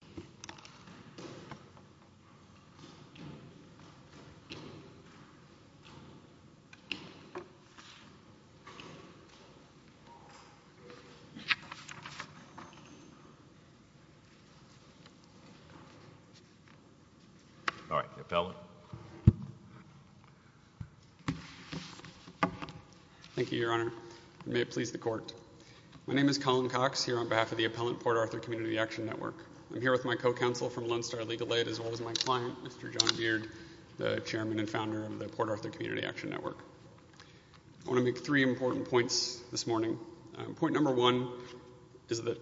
Appellant Colin Cox Co-Counsel I'm here with my co-counsel from Lone Star Legal Aid as well as my client, Mr. John Beard, the chairman and founder of the Port Arthur Community Action Network. I want to make three important points this morning. Point number one is that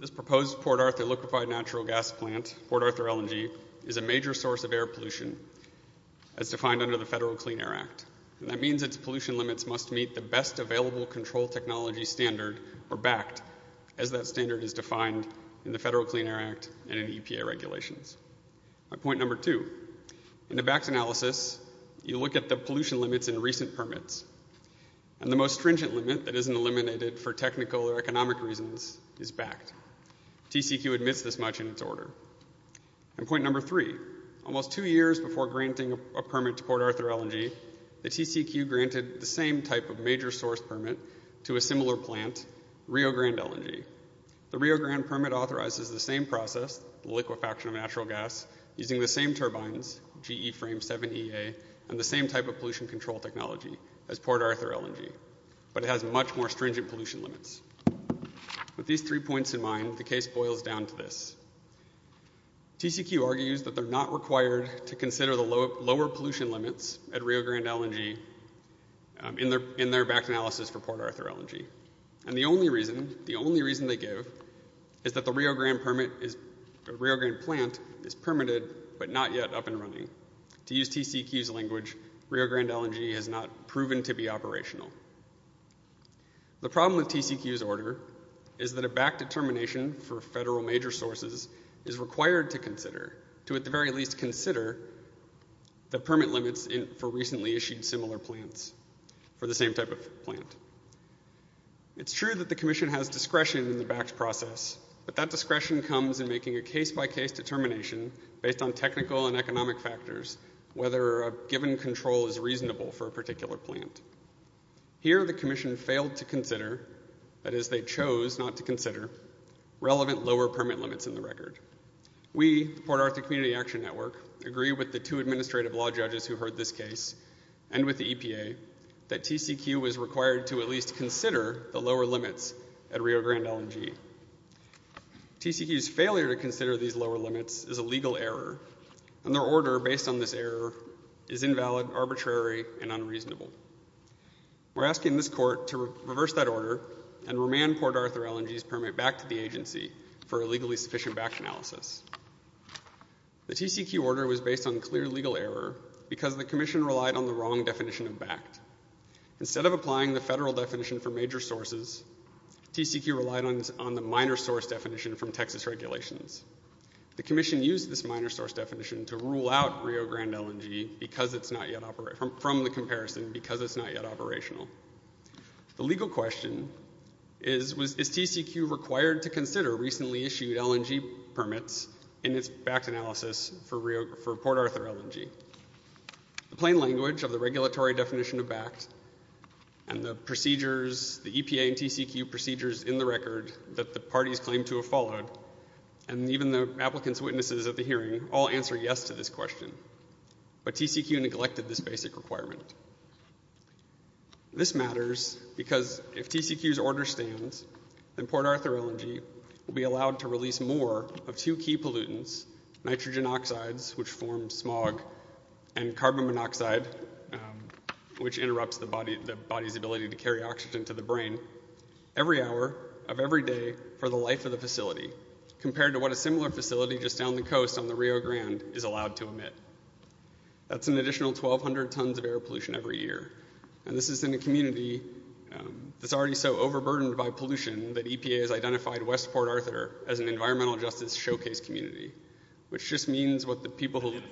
this proposed Port Arthur liquefied natural gas plant, Port Arthur LNG, is a major source of air pollution as defined under the Federal Clean Air Act. And that means its pollution limits must meet the best available control technology standard, or BACT, as that standard is defined in the Federal Clean Air Act and in EPA regulations. Point number two, in the BACT analysis, you look at the pollution limits in recent permits. And the most stringent limit that isn't eliminated for technical or economic reasons is BACT. TCEQ admits this much in its order. And point number three, almost two years before granting a permit to Port Arthur LNG, the TCEQ granted the same type of major source permit to a similar plant, Rio Grande LNG. The Rio Grande permit authorizes the same process, the liquefaction of natural gas, using the same turbines, GE Frame 7EA, and the same type of pollution control technology as Port Arthur LNG. But it has much more stringent pollution limits. With these three points in mind, the case boils down to this. TCEQ argues that they're not required to consider the lower pollution limits at Rio Grande LNG in their BACT analysis for Port Arthur LNG. And the only reason they give is that the Rio Grande plant is permitted but not yet up and running. To use TCEQ's language, Rio Grande LNG has not proven to be operational. The problem with TCEQ's order is that a BACT determination for federal major sources is required to consider, to at the very least consider the permit limits for recently issued similar plants for the same type of plant. It's true that the commission has discretion in the BACT process, but that discretion comes in making a case-by-case determination based on technical and economic factors, whether a given control is reasonable for a particular plant. Here, the commission failed to consider, that is they chose not to consider, relevant lower permit limits in the record. We, the Port Arthur Community Action Network, agree with the two administrative law judges who heard this case and with the EPA that TCEQ was required to at least consider the lower limits at Rio Grande LNG. TCEQ's failure to consider these lower limits is a legal error, and their order based on this error is invalid, arbitrary, and unreasonable. We're asking this court to reverse that order and remand Port Arthur LNG's permit back to the agency for a legally sufficient BACT analysis. The TCEQ order was based on clear legal error because the commission relied on the wrong definition of BACT. Instead of applying the federal definition for major sources, TCEQ relied on the minor source definition from Texas regulations. The commission used this minor source definition to rule out Rio Grande LNG from the comparison because it's not yet operational. The legal question is, is TCEQ required to consider recently issued LNG permits in its BACT analysis for Port Arthur LNG? The plain language of the regulatory definition of BACT and the procedures, the EPA and TCEQ procedures in the record that the parties claimed to have followed, and even the applicant's witnesses at the hearing, all answered yes to this question. But TCEQ neglected this basic requirement. This matters because if TCEQ's order stands, then Port Arthur LNG will be allowed to release more of two key pollutants, nitrogen oxides, which form smog, and carbon monoxide, which interrupts the body's ability to carry oxygen to the brain, every hour of every day for the life of the facility, compared to what a similar facility just down the coast on the Rio Grande is allowed to emit. That's an additional 1,200 tons of air pollution every year, and this is in a community that's already so overburdened by pollution that EPA has identified West Port Arthur as an environmental justice showcase community, which just means what the people who live there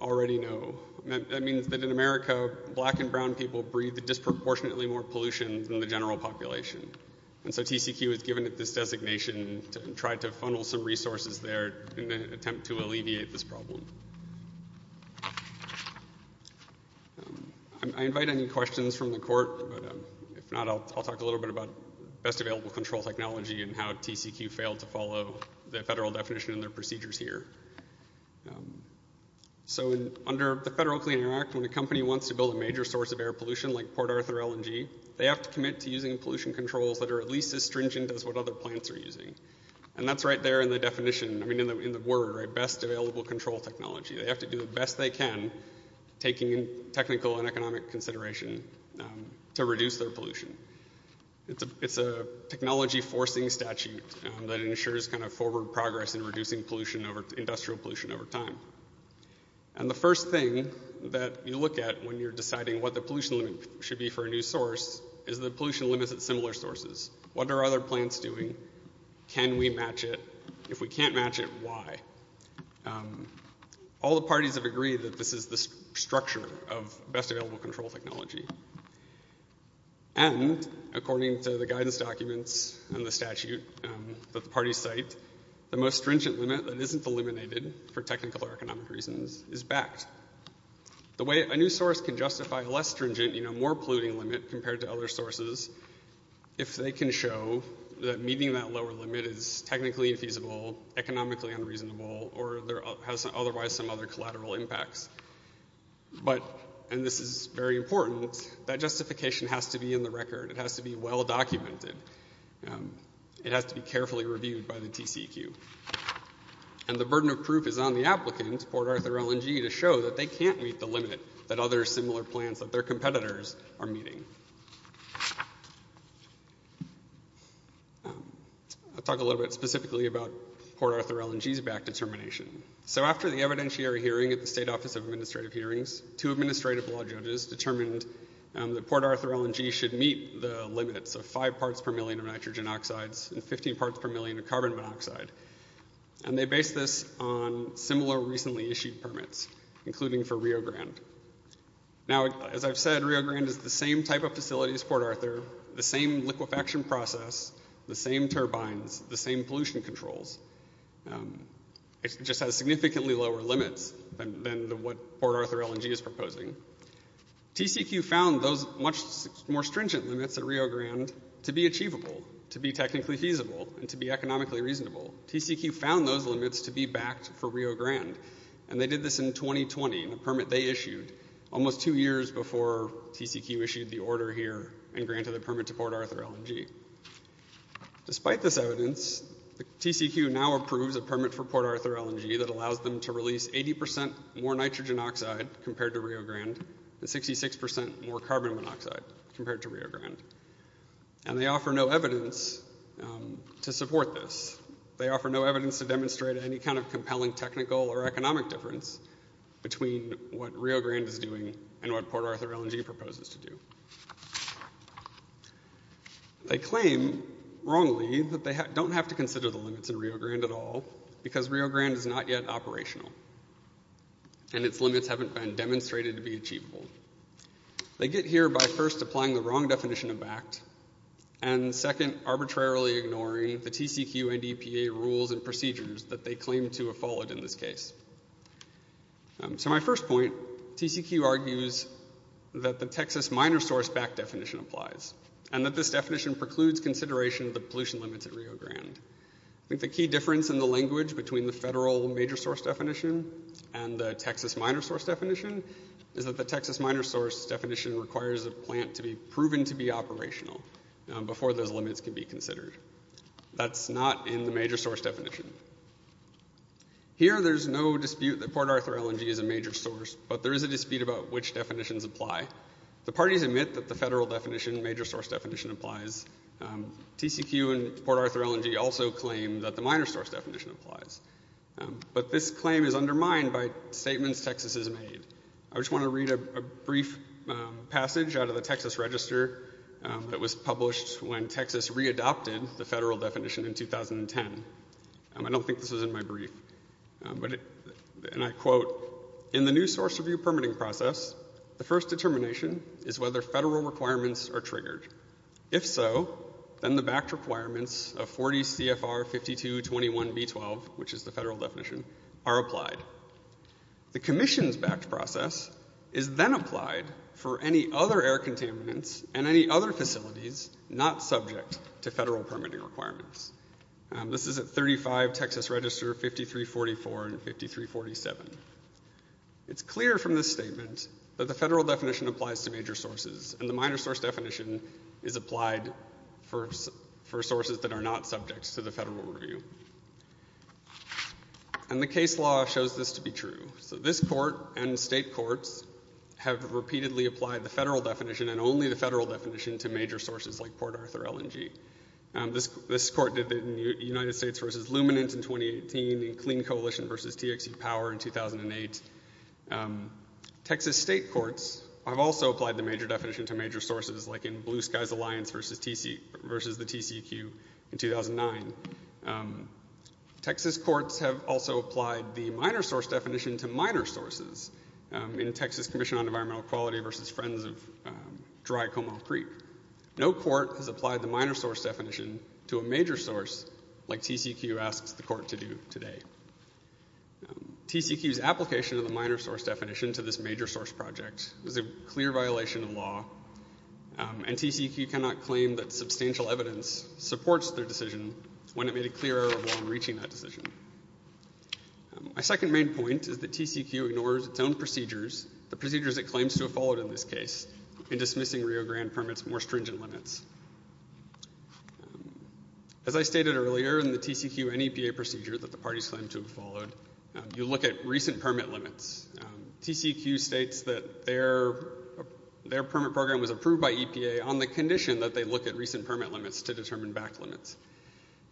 already know. That means that in America, black and brown people breathe disproportionately more pollution than the general population. And so TCEQ has given it this designation to try to funnel some resources there in an attempt to alleviate this problem. I invite any questions from the court, but if not, I'll talk a little bit about best available control technology and how TCEQ failed to follow the federal definition in their procedures here. So under the Federal Clean Air Act, when a company wants to build a major source of air pollution like Port Arthur LNG, they have to commit to using pollution controls that are at least as stringent as what other plants are using. And that's right there in the definition, I mean in the word, right, best available control technology. They have to do the best they can, taking technical and economic consideration, to reduce their pollution. It's a technology forcing statute that ensures kind of forward progress in reducing pollution, industrial pollution, over time. And the first thing that you look at when you're deciding what the pollution limit should be for a new source is the pollution limits at similar sources. What are other plants doing? Can we match it? If we can't match it, why? All the parties have agreed that this is the structure of best available control technology. And according to the guidance documents and the statute that the parties cite, the most stringent limit that isn't eliminated for technical or economic reasons is backed. The way a new source can justify a less stringent, you know, more polluting limit compared to other sources, if they can show that meeting that lower limit is technically infeasible, economically unreasonable, or has otherwise some other collateral impacts. But, and this is very important, that justification has to be in the record. It has to be well documented. It has to be carefully reviewed by the TCEQ. And the burden of proof is on the applicant, Port Arthur L&G, to show that they can't meet the limit that other similar plants, that their competitors, are meeting. I'll talk a little bit specifically about Port Arthur L&G's back determination. So after the evidentiary hearing at the State Office of Administrative Hearings, two administrative law judges determined that Port Arthur L&G should meet the limits of five parts per million of nitrogen oxides and 15 parts per million of carbon monoxide. And they based this on similar recently issued permits, including for Rio Grande. Now, as I've said, Rio Grande is the same type of facility as Port Arthur, the same liquefaction process, the same turbines, the same pollution controls. It just has significantly lower limits than what Port Arthur L&G is proposing. TCEQ found those much more stringent limits at Rio Grande to be achievable, to be technically feasible, and to be economically reasonable. TCEQ found those limits to be backed for Rio Grande. And they did this in 2020, in a permit they issued, almost two years before TCEQ issued the order here and granted the permit to Port Arthur L&G. Despite this evidence, TCEQ now approves a permit for Port Arthur L&G that allows them to release 80 percent more nitrogen oxide compared to Rio Grande and 66 percent more carbon monoxide compared to Rio Grande. And they offer no evidence to support this. They offer no evidence to demonstrate any kind of compelling technical or economic difference between what Rio Grande is doing and what Port Arthur L&G proposes to do. They claim, wrongly, that they don't have to consider the limits in Rio Grande at all, because Rio Grande is not yet operational, and its limits haven't been demonstrated to be achievable. They get here by first applying the wrong definition of backed, and second, arbitrarily ignoring the TCEQ and EPA rules and procedures that they claim to have followed in this case. So my first point, TCEQ argues that the Texas minor source backed definition applies and that this definition precludes consideration of the pollution limits at Rio Grande. I think the key difference in the language between the federal major source definition and the Texas minor source definition is that the Texas minor source definition requires a plant to be proven to be operational before those limits can be considered. That's not in the major source definition. Here there's no dispute that Port Arthur L&G is a major source, but there is a dispute about which definitions apply. The parties admit that the federal definition, major source definition, applies. TCEQ and Port Arthur L&G also claim that the minor source definition applies. But this claim is undermined by statements Texas has made. I just want to read a brief passage out of the Texas Register that was published when Texas readopted the federal definition in 2010. I don't think this was in my brief. And I quote, In the new source review permitting process, the first determination is whether federal requirements are triggered. If so, then the backed requirements of 40 CFR 5221B12, which is the federal definition, are applied. The commission's backed process is then applied for any other air contaminants and any other facilities not subject to federal permitting requirements. This is at 35 Texas Register 5344 and 5347. It's clear from this statement that the federal definition applies to major sources, and the minor source definition is applied for sources that are not subject to the federal review. And the case law shows this to be true. So this court and state courts have repeatedly applied the federal definition and only the federal definition to major sources like Port Arthur L&G. This court did that in United States v. Luminance in 2018 and Clean Coalition v. TXE Power in 2008. Texas state courts have also applied the major definition to major sources like in Blue Skies Alliance v. the TCEQ in 2009. Texas courts have also applied the minor source definition to minor sources in Texas Commission on Environmental Quality v. Friends of Dry Como Creek. No court has applied the minor source definition to a major source like TCEQ asks the court to do today. TCEQ's application of the minor source definition to this major source project is a clear violation of law, and TCEQ cannot claim that substantial evidence supports their decision when it made a clear error of law in reaching that decision. My second main point is that TCEQ ignores its own procedures, the procedures it claims to have followed in this case, in dismissing Rio Grande permit's more stringent limits. As I stated earlier in the TCEQ and EPA procedure that the parties claim to have followed, you look at recent permit limits. TCEQ states that their permit program was approved by EPA on the condition that they look at recent permit limits to determine back limits.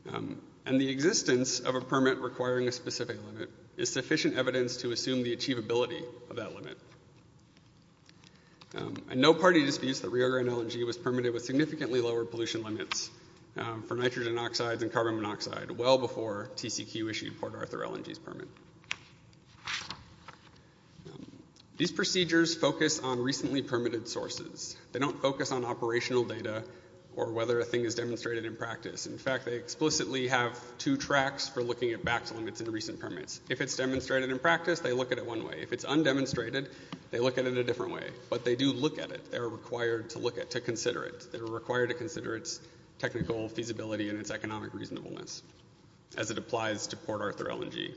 And the existence of a permit requiring a specific limit is sufficient evidence to assume the achievability of that limit. And no party disputes that Rio Grande LNG was permitted with significantly lower pollution limits for nitrogen oxides and carbon monoxide well before TCEQ issued Port Arthur LNG's permit. These procedures focus on recently permitted sources. They don't focus on operational data or whether a thing is demonstrated in practice. In fact, they explicitly have two tracks for looking at back limits in recent permits. If it's demonstrated in practice, they look at it one way. If it's undemonstrated, they look at it a different way. But they do look at it. They are required to look at it, to consider it. They are required to consider its technical feasibility and its economic reasonableness as it applies to Port Arthur LNG.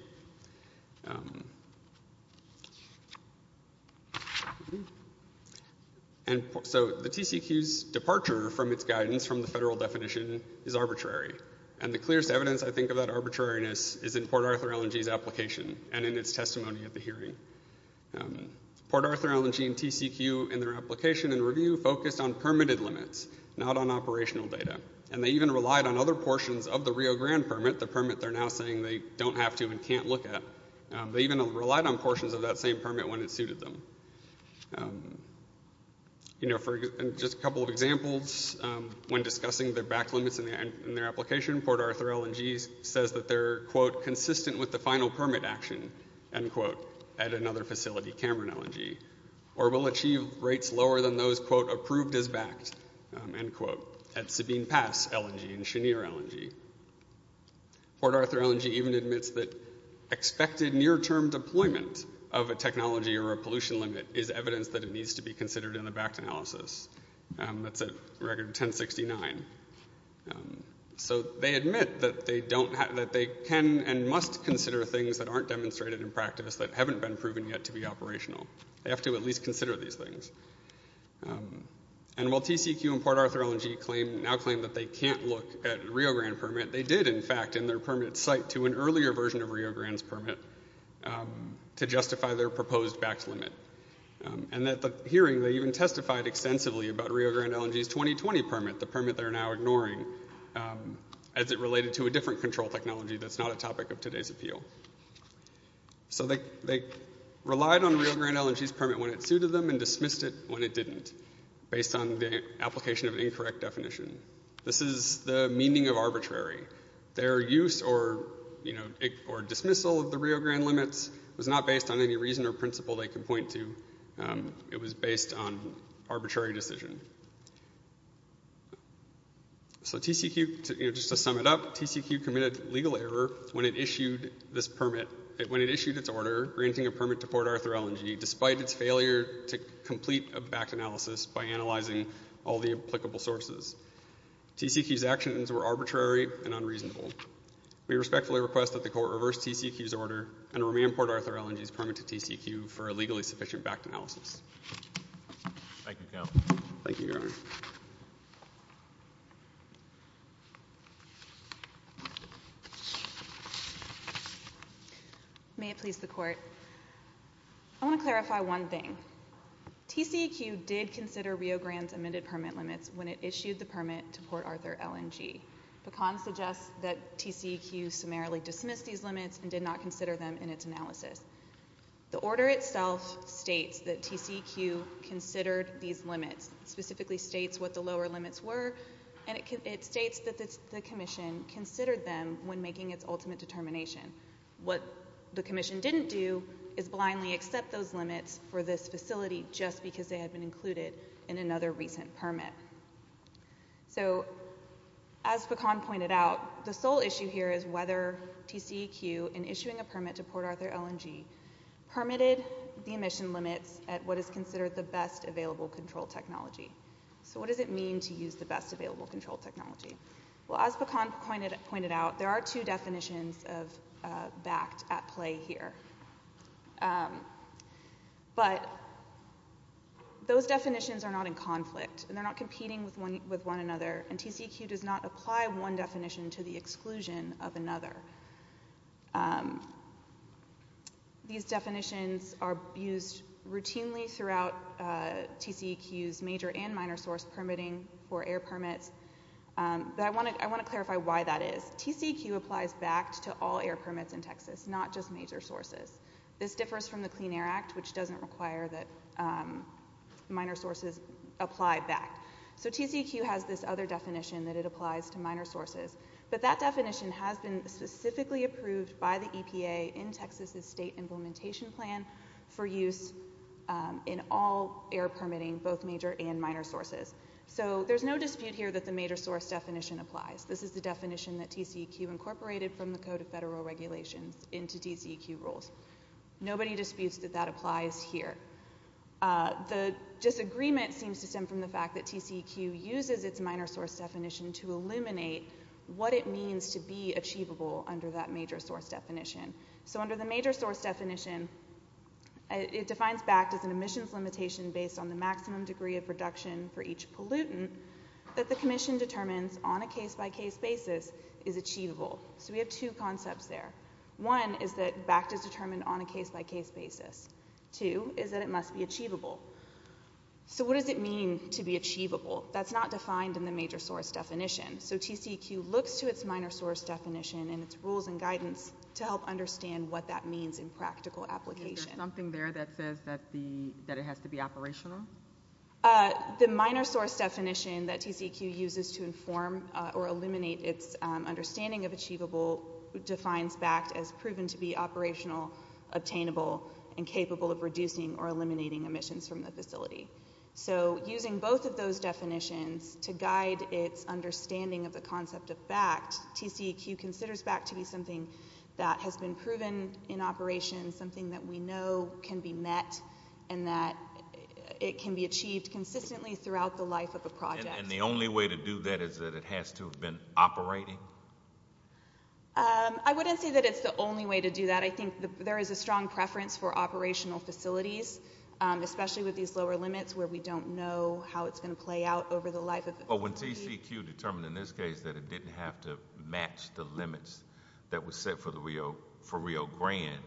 And so the TCEQ's departure from its guidance from the federal definition is arbitrary. And the clearest evidence, I think, of that arbitrariness is in Port Arthur LNG's application and in its testimony at the hearing. Port Arthur LNG and TCEQ in their application and review focused on permitted limits, not on operational data. And they even relied on other portions of the Rio Grande permit, They even relied on portions of that same permit when it suited them. You know, for just a couple of examples, when discussing their back limits in their application, Port Arthur LNG says that they're, quote, consistent with the final permit action, end quote, at another facility, Cameron LNG, or will achieve rates lower than those, quote, approved as backed, end quote, at Sabine Pass LNG and Chenier LNG. Port Arthur LNG even admits that expected near-term deployment of a technology or a pollution limit is evidence that it needs to be considered in the backed analysis. That's at record 1069. So they admit that they can and must consider things that aren't demonstrated in practice, that haven't been proven yet to be operational. They have to at least consider these things. And while TCEQ and Port Arthur LNG now claim that they can't look at Rio Grande permit, they did, in fact, in their permit cite to an earlier version of Rio Grande's permit to justify their proposed backed limit. And at the hearing, they even testified extensively about Rio Grande LNG's 2020 permit, the permit they're now ignoring, as it related to a different control technology that's not a topic of today's appeal. So they relied on Rio Grande LNG's permit when it suited them and dismissed it when it didn't, based on the application of an incorrect definition. This is the meaning of arbitrary. Their use or, you know, or dismissal of the Rio Grande limits was not based on any reason or principle they can point to. It was based on arbitrary decision. So TCEQ, you know, just to sum it up, TCEQ committed legal error when it issued this permit, when it issued its order granting a permit to Port Arthur LNG despite its failure to complete a backed analysis by analyzing all the applicable sources. TCEQ's actions were arbitrary and unreasonable. We respectfully request that the Court reverse TCEQ's order and remand Port Arthur LNG's permit to TCEQ for a legally sufficient backed analysis. Thank you, Counsel. Thank you, Your Honor. May it please the Court. I want to clarify one thing. TCEQ did consider Rio Grande's amended permit limits when it issued the permit to Port Arthur LNG. Pecan suggests that TCEQ summarily dismissed these limits and did not consider them in its analysis. The order itself states that TCEQ considered these limits, specifically states what the lower limits were, and it states that the Commission considered them when making its ultimate determination. What the Commission didn't do is blindly accept those limits for this facility just because they had been included in another recent permit. So as Pecan pointed out, the sole issue here is whether TCEQ, in issuing a permit to Port Arthur LNG, permitted the emission limits at what is considered the best available control technology. So what does it mean to use the best available control technology? Well, as Pecan pointed out, there are two definitions of BACT at play here. But those definitions are not in conflict, and they're not competing with one another, and TCEQ does not apply one definition to the exclusion of another. These definitions are used routinely throughout TCEQ's major and minor source permitting for air permits, but I want to clarify why that is. TCEQ applies BACT to all air permits in Texas, not just major sources. This differs from the Clean Air Act, which doesn't require that minor sources apply BACT. So TCEQ has this other definition that it applies to minor sources, but that definition has been specifically approved by the EPA in Texas's state implementation plan for use in all air permitting, both major and minor sources. So there's no dispute here that the major source definition applies. This is the definition that TCEQ incorporated from the Code of Federal Regulations into TCEQ rules. Nobody disputes that that applies here. The disagreement seems to stem from the fact that TCEQ uses its minor source definition to illuminate what it means to be achievable under that major source definition. So under the major source definition, it defines BACT as an emissions limitation based on the maximum degree of reduction for each pollutant that the commission determines on a case-by-case basis is achievable. So we have two concepts there. One is that BACT is determined on a case-by-case basis. Two is that it must be achievable. So what does it mean to be achievable? That's not defined in the major source definition. So TCEQ looks to its minor source definition and its rules and guidance to help understand what that means in practical application. Is there something there that says that it has to be operational? The minor source definition that TCEQ uses to inform or illuminate its understanding of achievable defines BACT as proven to be operational, obtainable, and capable of reducing or eliminating emissions from the facility. So using both of those definitions to guide its understanding of the concept of BACT, TCEQ considers BACT to be something that has been proven in operation, something that we know can be met, and that it can be achieved consistently throughout the life of a project. And the only way to do that is that it has to have been operating? I wouldn't say that it's the only way to do that. I think there is a strong preference for operational facilities, especially with these lower limits where we don't know how it's going to play out over the life of the facility. But when TCEQ determined in this case that it didn't have to match the limits that were set for Rio Grande,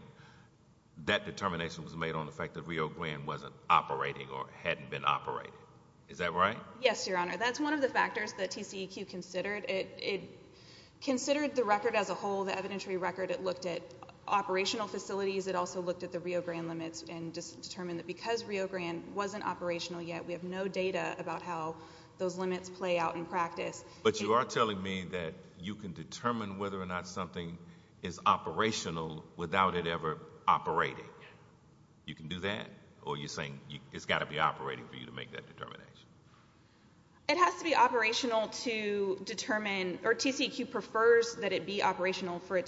that determination was made on the fact that Rio Grande wasn't operating or hadn't been operated. Is that right? Yes, Your Honor, that's one of the factors that TCEQ considered. It considered the record as a whole, the evidentiary record. It looked at operational facilities. It also looked at the Rio Grande limits and determined that because Rio Grande wasn't operational yet, we have no data about how those limits play out in practice. But you are telling me that you can determine whether or not something is operational without it ever operating. You can do that? Or you're saying it's got to be operating for you to make that determination? It has to be operational to determine, or TCEQ prefers that it be operational for it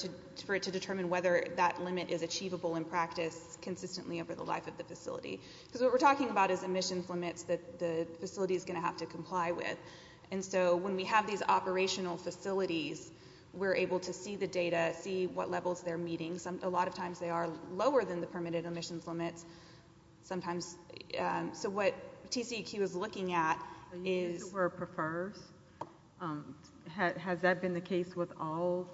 to determine whether that limit is achievable in practice consistently over the life of the facility. Because what we're talking about is emissions limits that the facility is going to have to comply with. And so when we have these operational facilities, we're able to see the data, see what levels they're meeting. A lot of times they are lower than the permitted emissions limits sometimes. So what TCEQ is looking at is... You use the word prefers. Has that been the case with all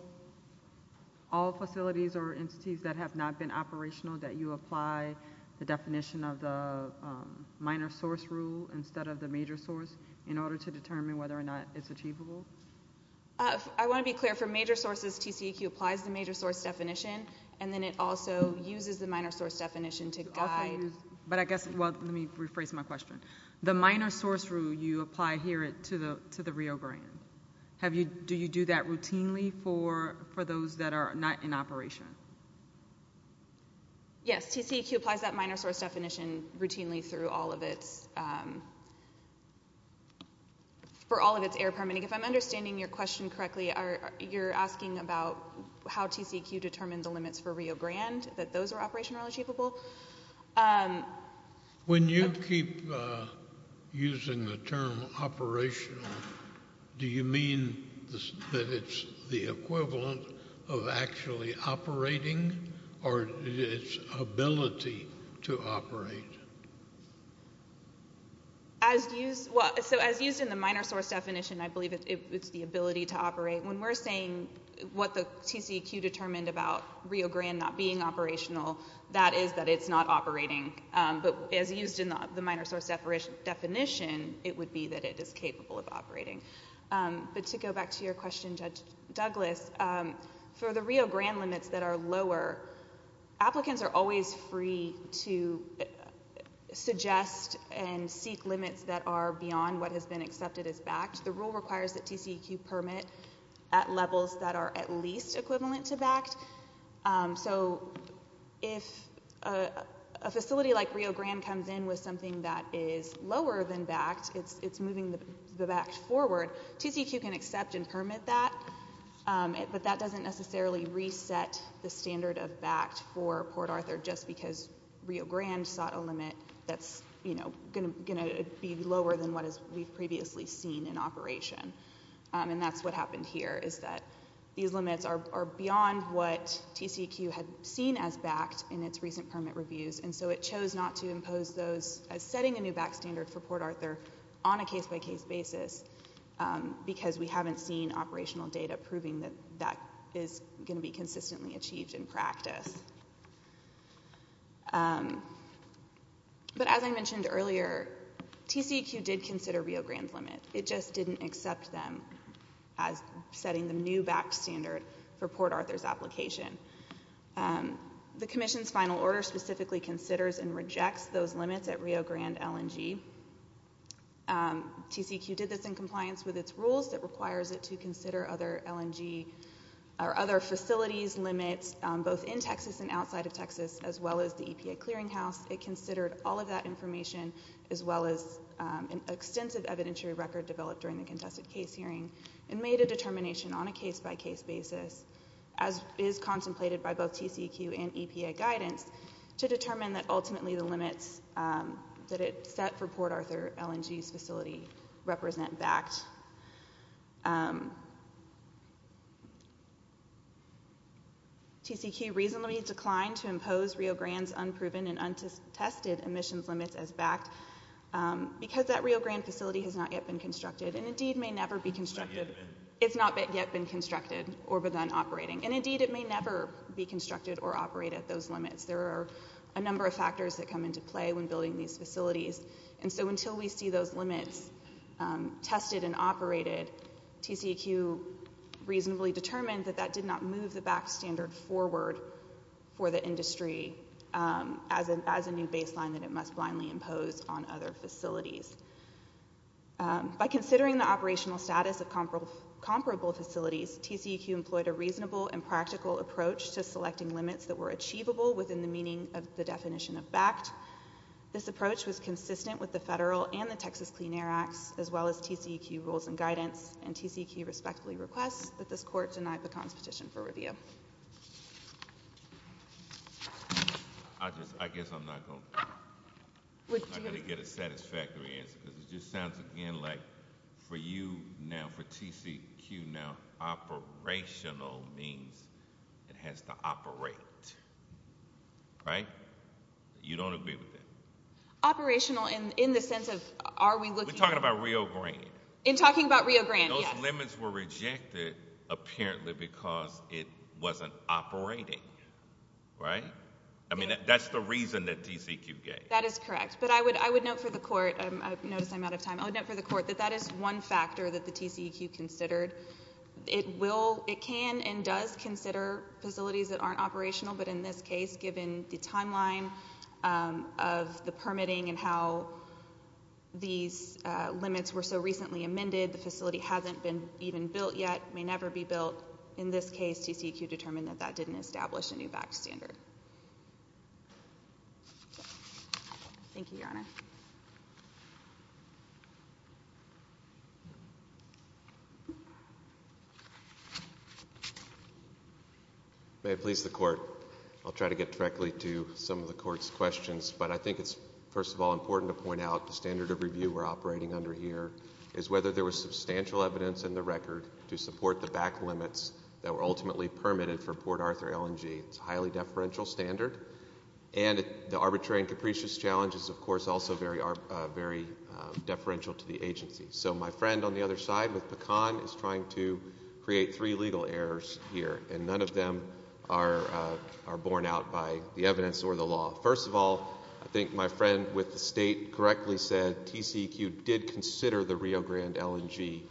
facilities or entities that have not been operational, that you apply the definition of the minor source rule instead of the major source in order to determine whether or not it's achievable? I want to be clear. For major sources, TCEQ applies the major source definition, and then it also uses the minor source definition to guide... But I guess... Well, let me rephrase my question. The minor source rule, you apply here to the Rio Grande. Do you do that routinely for those that are not in operation? Yes, TCEQ applies that minor source definition routinely for all of its air permitting. If I'm understanding your question correctly, you're asking about how TCEQ determines the limits for Rio Grande, that those are operational or achievable? When you keep using the term operational, do you mean that it's the equivalent of actually operating or its ability to operate? As used... So as used in the minor source definition, I believe it's the ability to operate. When we're saying what the TCEQ determined about Rio Grande not being operational, that is that it's not operating. But as used in the minor source definition, it would be that it is capable of operating. But to go back to your question, Judge Douglas, for the Rio Grande limits that are lower, applicants are always free to suggest and seek limits that are beyond what has been accepted as backed. The rule requires that TCEQ permit at levels that are at least equivalent to backed. So if a facility like Rio Grande comes in with something that is lower than backed, it's moving the backed forward, TCEQ can accept and permit that, but that doesn't necessarily reset the standard of backed for Port Arthur just because Rio Grande sought a limit that's, you know, going to be lower than what we've previously seen in operation. And that's what happened here, is that these limits are beyond what TCEQ had seen as backed in its recent permit reviews, and so it chose not to impose those as setting a new back standard for Port Arthur on a case-by-case basis because we haven't seen operational data proving that that is going to be consistently achieved in practice. But as I mentioned earlier, TCEQ did consider Rio Grande's limit. It just didn't accept them as setting the new backed standard for Port Arthur's application. The Commission's final order specifically considers and rejects those limits at Rio Grande LNG. TCEQ did this in compliance with its rules that requires it to consider other LNG or other facilities limits both in Texas and outside of Texas as well as the EPA clearinghouse. It considered all of that information as well as an extensive evidentiary record developed during the contested case hearing and made a determination on a case-by-case basis, to determine that ultimately the limits that it set for Port Arthur LNG's facility represent backed. TCEQ reasonably declined to impose Rio Grande's unproven and untested emissions limits as backed because that Rio Grande facility has not yet been constructed and indeed may never be constructed. It's not yet been constructed or been operating, or operate at those limits. There are a number of factors that come into play when building these facilities. And so until we see those limits tested and operated, TCEQ reasonably determined that that did not move the backed standard forward for the industry as a new baseline that it must blindly impose on other facilities. By considering the operational status of comparable facilities, TCEQ employed a reasonable and practical approach to selecting limits that were achievable within the meaning of the definition of backed. This approach was consistent with the federal and the Texas Clean Air Acts, as well as TCEQ rules and guidance, and TCEQ respectfully requests that this court deny Pecan's petition for review. I guess I'm not gonna get a satisfactory answer because it just sounds again like for you now, for TCEQ now, operational means it has to operate. Right? You don't agree with that? Operational in the sense of are we looking... We're talking about Rio Grande. In talking about Rio Grande, yes. Those limits were rejected, apparently because it wasn't operating. Right? I mean, that's the reason that TCEQ gave. That is correct. But I would note for the court, notice I'm out of time, I would note for the court that that is one factor that the TCEQ considered. It can and does consider facilities that aren't operational, but in this case, given the timeline of the permitting and how these limits were so recently amended, the facility hasn't been even built yet, may never be built. In this case, TCEQ determined that that didn't establish a new VAC standard. Thank you, Your Honor. Thank you. May it please the court, I'll try to get directly to some of the court's questions, but I think it's, first of all, important to point out the standard of review we're operating under here is whether there was substantial evidence in the record to support the VAC limits that were ultimately permitted for Port Arthur LNG. It's a highly deferential standard, and the arbitrary and capricious challenges, of course, also are very deferential to the agency. So my friend on the other side with Pecan is trying to create three legal errors here, and none of them are borne out by the evidence or the law. First of all, I think my friend with the State correctly said TCEQ did consider the Rio Grande LNG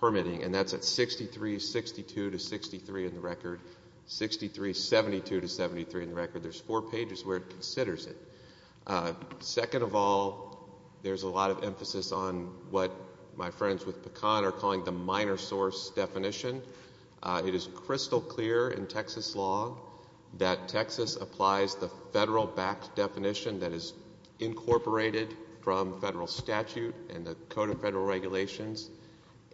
permitting, and that's at 63, 62 to 63 in the record, 63, 72 to 73 in the record. There's four pages where it considers it. Second of all, there's a lot of emphasis on what my friends with Pecan are calling the minor source definition. It is crystal clear in Texas law that Texas applies the federal VAC definition that is incorporated from federal statute and the Code of Federal Regulations,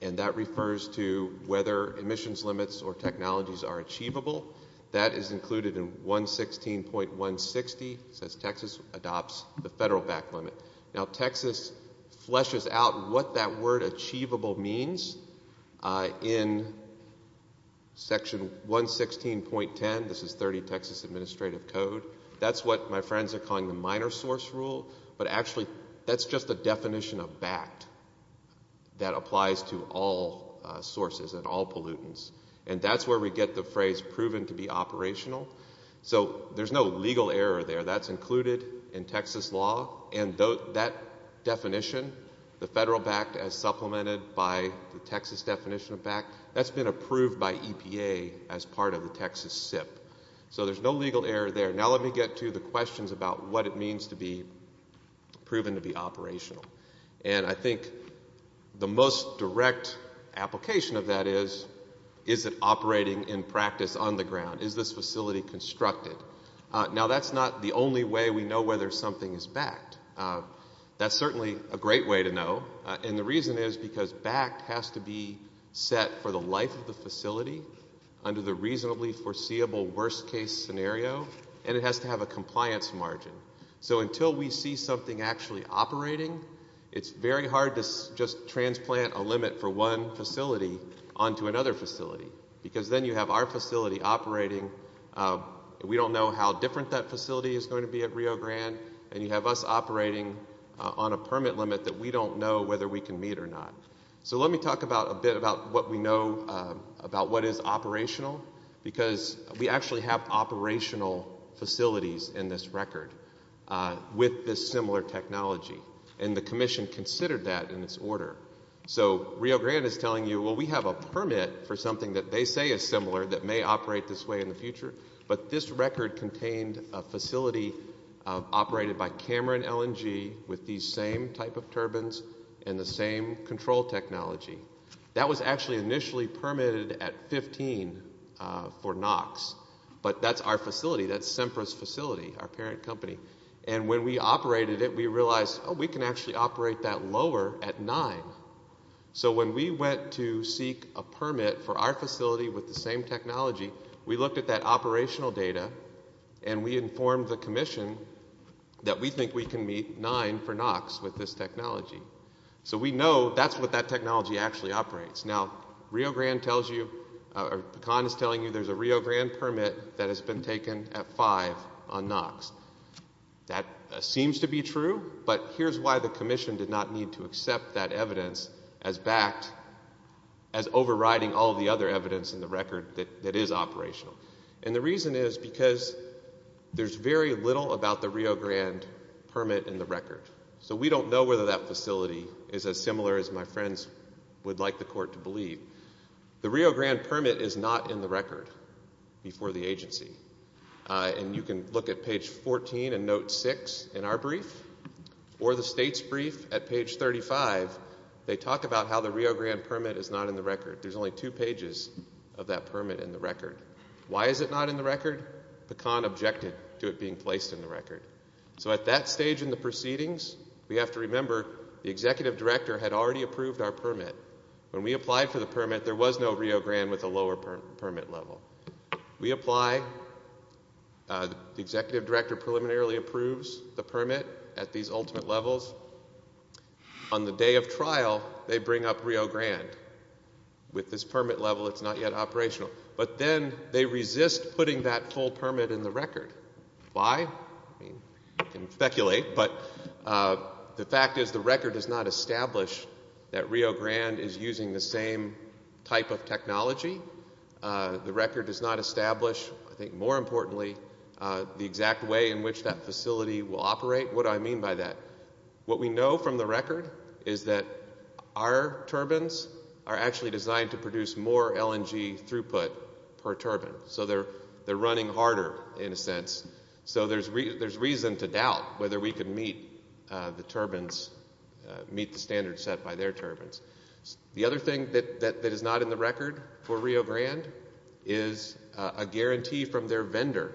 and that refers to whether emissions limits or technologies are achievable. That is included in 116.160. It says Texas adopts the federal VAC limit. Now, Texas fleshes out what that word achievable means in Section 116.10. This is 30 Texas Administrative Code. That's what my friends are calling the minor source rule, but actually that's just a definition of VAC that applies to all sources and all pollutants, and that's where we get the phrase proven to be operational. So there's no legal error there. That's included in Texas law, and that definition, the federal VAC as supplemented by the Texas definition of VAC, that's been approved by EPA as part of the Texas SIP. So there's no legal error there. Now let me get to the questions about what it means to be proven to be operational, and I think the most direct application of that is is it operating in practice on the ground? Is this facility constructed? Now, that's not the only way we know whether something is backed. That's certainly a great way to know, and the reason is because backed has to be set for the life of the facility under the reasonably foreseeable worst-case scenario, and it has to have a compliance margin. So until we see something actually operating, it's very hard to just transplant a limit for one facility onto another facility because then you have our facility operating. We don't know how different that facility is going to be at Rio Grande, and you have us operating on a permit limit that we don't know whether we can meet or not. So let me talk a bit about what we know about what is operational because we actually have operational facilities in this record with this similar technology, and the commission considered that in its order. So Rio Grande is telling you, well, we have a permit for something that they say is similar that may operate this way in the future, but this record contained a facility operated by Cameron LNG with these same type of turbines and the same control technology. That was actually initially permitted at 15 for NOx, but that's our facility. That's Sempra's facility, our parent company, and when we operated it, we realized, oh, we can actually operate that lower at 9. So when we went to seek a permit for our facility with the same technology, we looked at that operational data, and we informed the commission that we think we can meet 9 for NOx with this technology. So we know that's what that technology actually operates. Now, Rio Grande tells you, or Pecan is telling you there's a Rio Grande permit that has been taken at 5 on NOx. That seems to be true, but here's why the commission did not need to accept that evidence as backed, as overriding all the other evidence in the record that is operational, and the reason is because there's very little about the Rio Grande permit in the record, so we don't know whether that facility is as similar as my friends would like the court to believe. The Rio Grande permit is not in the record before the agency, and you can look at page 14 and note 6 in our brief or the state's brief at page 35. They talk about how the Rio Grande permit is not in the record. There's only 2 pages of that permit in the record. Why is it not in the record? Pecan objected to it being placed in the record. So at that stage in the proceedings, we have to remember the executive director had already approved our permit. When we applied for the permit, there was no Rio Grande with a lower permit level. We apply. The executive director preliminarily approves the permit at these ultimate levels. On the day of trial, they bring up Rio Grande. With this permit level, it's not yet operational. But then they resist putting that full permit in the record. Why? You can speculate, but the fact is that Rio Grande is using the same type of technology. The record does not establish, I think more importantly, the exact way in which that facility will operate. What do I mean by that? What we know from the record is that our turbines are actually designed to produce more LNG throughput per turbine. So they're running harder, in a sense. So there's reason to doubt whether we could meet the turbines, meet the standards set by their turbines. The other thing that is not in the record for Rio Grande is a guarantee from their vendor.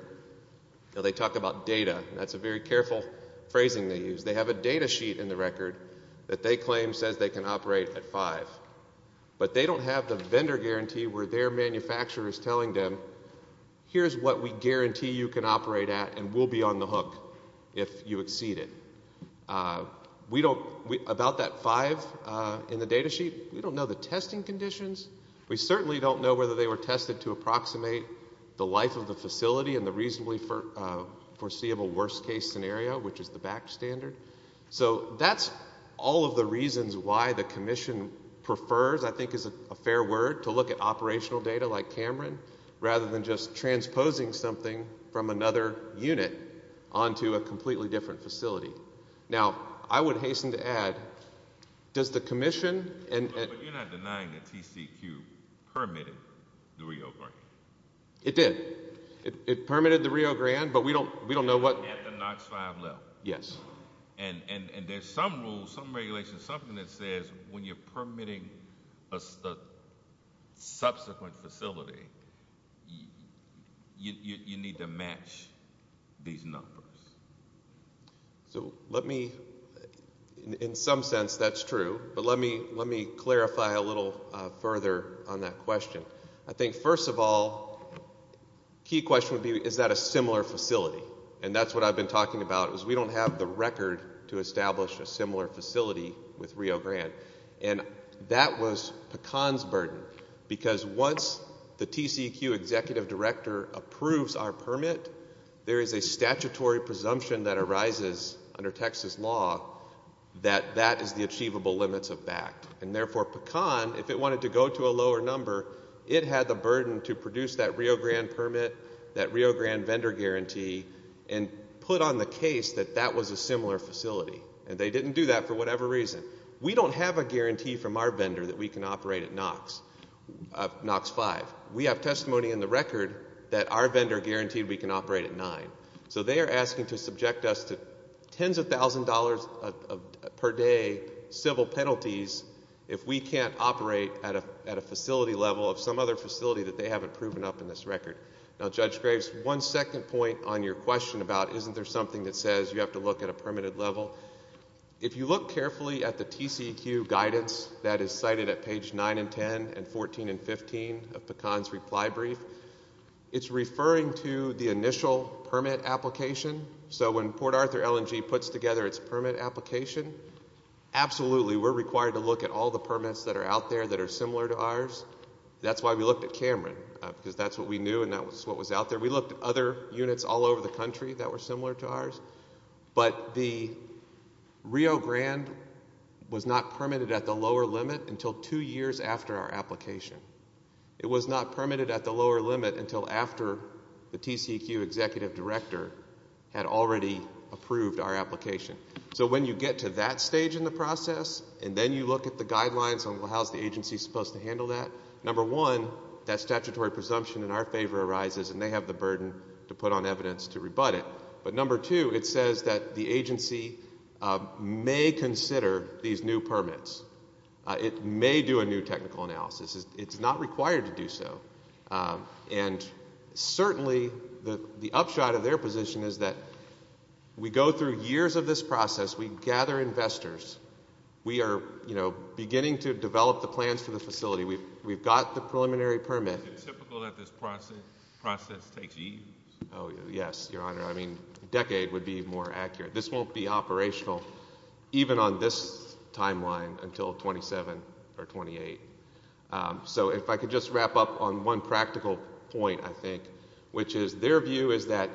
They talk about data. That's a very careful phrasing they use. They have a data sheet in the record that they claim says they can operate at 5. But they don't have the vendor guarantee where their manufacturer is telling them, here's what we guarantee you can operate at and we'll be on the hook if you exceed it. About that 5 in the data sheet, we don't know the testing conditions. We certainly don't know whether they were tested to approximate the life of the facility and the reasonably foreseeable worst-case scenario, which is the back standard. So that's all of the reasons why the Commission prefers, I think is a fair word, to look at operational data like Cameron rather than just transposing something from another unit onto a completely different facility. Now, I would hasten to add, does the Commission... But you're not denying that TCQ permitted the Rio Grande. It did. It permitted the Rio Grande, but we don't know what... At the NOx 5 level. Yes. And there's some rules, some regulations, something that says when you're permitting a subsequent facility, you need to match these numbers. So let me... In some sense, that's true, but let me clarify a little further on that question. I think, first of all, the key question would be, is that a similar facility? And that's what I've been talking about, is we don't have the record to establish a similar facility with Rio Grande. And that was Pecan's burden, because once the TCQ Executive Director approves our permit, there is a statutory presumption that arises under Texas law that that is the achievable limits of BACT. And therefore, Pecan, if it wanted to go to a lower number, it had the burden to produce that Rio Grande permit, that Rio Grande vendor guarantee, and put on the case that that was a similar facility. And they didn't do that for whatever reason. We don't have a guarantee from our vendor that we can operate at Nox 5. We have testimony in the record that our vendor guaranteed we can operate at 9. So they are asking to subject us to tens of thousands of dollars per day civil penalties if we can't operate at a facility level of some other facility that they haven't proven up in this record. Now, Judge Graves, one second point on your question about isn't there something that says you have to look at a permitted level. If you look carefully at the TCQ guidance that is cited at page 9 and 10 and 14 and 15 of Pecan's reply brief, it's referring to the initial permit application. So when Port Arthur LNG puts together its permit application, absolutely we're required to look at all the permits that are out there that are similar to ours. That's why we looked at Cameron, because that's what we knew and that's what was out there. We looked at other units all over the country that were similar to ours. But the Rio Grande was not permitted at the lower limit until two years after our application. It was not permitted at the lower limit until after the TCQ executive director had already approved our application. So when you get to that stage in the process and then you look at the guidelines on how's the agency supposed to handle that, number one, that statutory presumption in our favor arises and they have the burden to put on evidence to rebut it. But number two, it says that the agency may consider these new permits. It may do a new technical analysis. It's not required to do so. And certainly the upshot of their position is that we go through years of this process. We gather investors. We are beginning to develop the plans for the facility. We've got the preliminary permit. Is it typical that this process takes years? Oh, yes, Your Honor. I mean, a decade would be more accurate. This won't be operational even on this timeline until 27 or 28. So if I could just wrap up on one practical point, I think, which is their view is that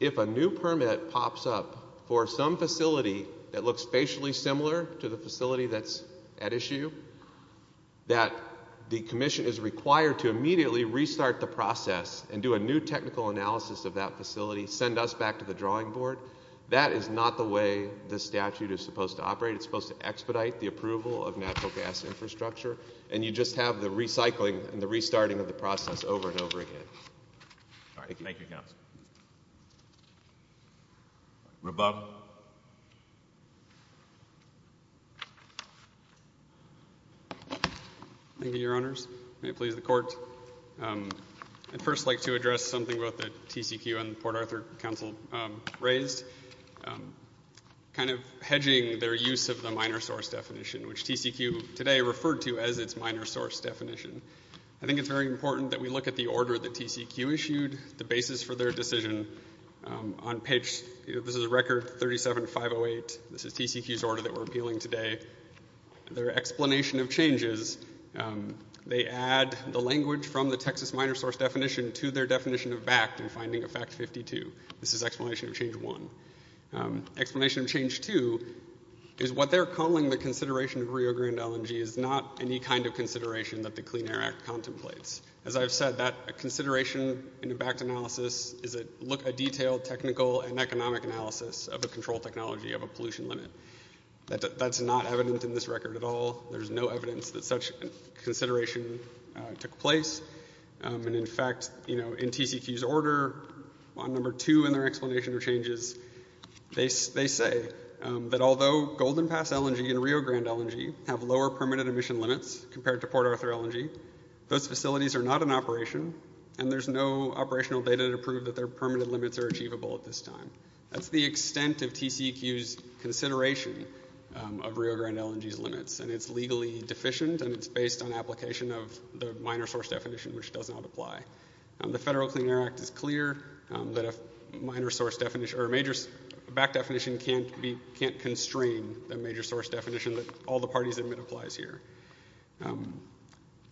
if a new permit pops up for some facility that looks spatially similar to the facility that's at issue, that the commission is required to immediately restart the process and do a new technical analysis of that facility, send us back to the drawing board. That is not the way the statute is supposed to operate. It's supposed to expedite the approval of natural gas infrastructure, and you just have the recycling and the restarting of the process over and over again. Thank you. Thank you, Counsel. Rebub. Thank you, Your Honors. May it please the Court. I'd first like to address something that both the TCQ and Port Arthur Counsel raised, kind of hedging their use of the minor source definition, which TCQ today referred to as its minor source definition. I think it's very important that we look at the order that TCQ issued, the basis for their decision. This is Record 37-508. This is TCQ's order that we're appealing today. Their explanation of changes, they add the language from the Texas minor source definition to their definition of BACT in finding of Fact 52. This is Explanation of Change 1. Explanation of Change 2 is what they're calling the consideration of Rio Grande LNG is not any kind of consideration that the Clean Air Act contemplates. As I've said, a consideration in a BACT analysis is a detailed technical and economic analysis of the control technology of a pollution limit. That's not evident in this record at all. There's no evidence that such consideration took place. And in fact, you know, in TCQ's order, on number 2 in their explanation of changes, they say that although Golden Pass LNG and Rio Grande LNG have lower permitted emission limits compared to Port Arthur LNG, those facilities are not in operation and there's no operational data to prove that their permitted limits are achievable at this time. That's the extent of TCQ's consideration of Rio Grande LNG's limits and it's legally deficient and it's based on application of the minor source definition, which does not apply. The Federal Clean Air Act is clear that a minor source definition or a major BACT definition can't constrain the major source definition that all the parties admit applies here.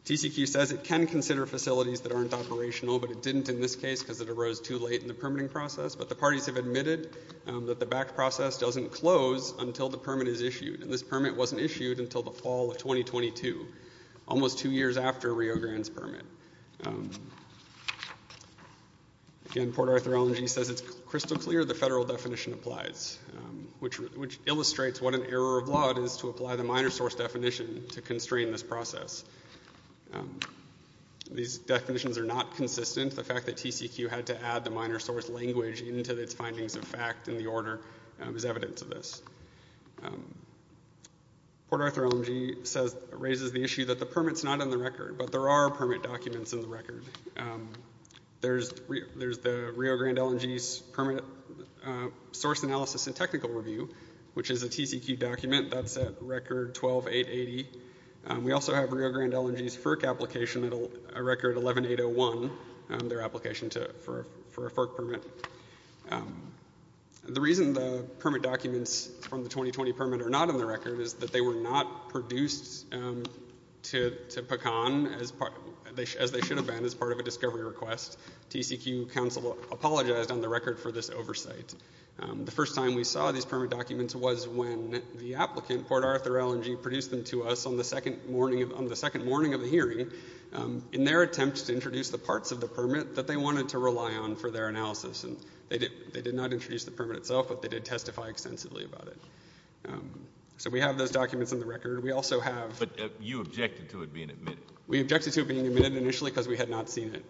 TCQ says it can consider facilities that aren't operational, but it didn't in this case because it arose too late in the permitting process, but the parties have admitted that the BACT process doesn't close until the permit is issued and this permit wasn't issued until the fall of 2022, almost 2 years after Rio Grande's permit. Again, Port Arthur LNG says it's crystal clear the Federal definition applies, which illustrates what an error of law it is to apply the minor source definition to constrain this process. These definitions are not consistent. The fact that TCQ had to add the minor source language into its findings of fact in the order is evidence of this. Port Arthur LNG raises the issue that the permit's not in the record, but there are permit documents in the record. There's the Rio Grande LNG's Permit Source Analysis and Technical Review, which is a TCQ document that's at Record 12-880. We also have Rio Grande LNG's FERC application at Record 11-801, their application for a FERC permit. The reason the permit documents from the 2020 permit are not in the record is that they were not produced to PACAN as they should have been as part of a discovery request. TCQ counsel apologized on the record for this oversight. The first time we saw these permit documents was when the applicant, Port Arthur LNG, produced them to us on the second morning of the hearing in their attempt to introduce the parts of the permit that they wanted to rely on for their analysis, and they did not introduce the permit itself, but they did testify extensively about it. So we have those documents in the record. We also have... But you objected to it being admitted. We objected to it being admitted initially because we had not seen it.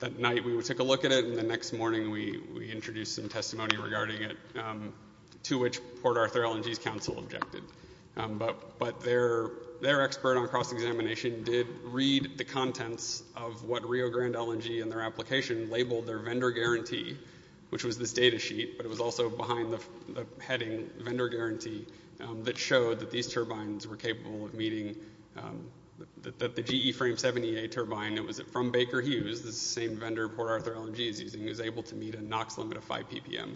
That night we took a look at it, and the next morning we introduced some testimony regarding it to which Port Arthur LNG's counsel objected. But their expert on cross-examination did read the contents of what Rio Grande LNG in their application labeled their vendor guarantee, which was this data sheet, but it was also behind the heading vendor guarantee that showed that these turbines were capable of meeting... that the GE Frame 70A turbine that was from Baker Hughes, the same vendor Port Arthur LNG is using, was able to meet a NOx limit of 5 ppm.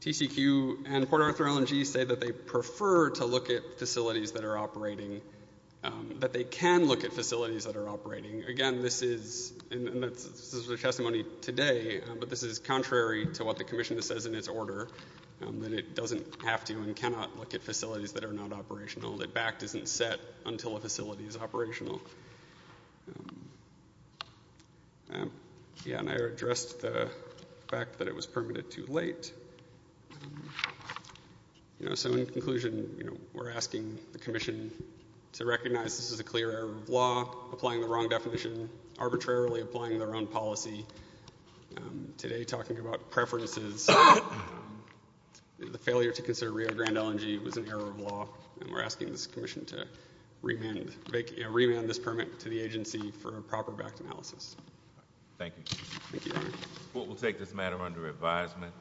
TCQ and Port Arthur LNG say that they prefer to look at facilities that are operating, that they can look at facilities that are operating. Again, this is... And this is their testimony today, but this is contrary to what the commission says in its order, that it doesn't have to and cannot look at facilities that are not operational, that BACT isn't set until a facility is operational. Kea and I addressed the fact that it was permitted too late. You know, so in conclusion, we're asking the commission to recognize this is a clear error of law, applying the wrong definition, arbitrarily applying their own policy. Today, talking about preferences, the failure to consider Rio Grande LNG was an error of law, and we're asking this commission to remand this permit Thank you. Thank you, Your Honor. The court will take this matter under advisement.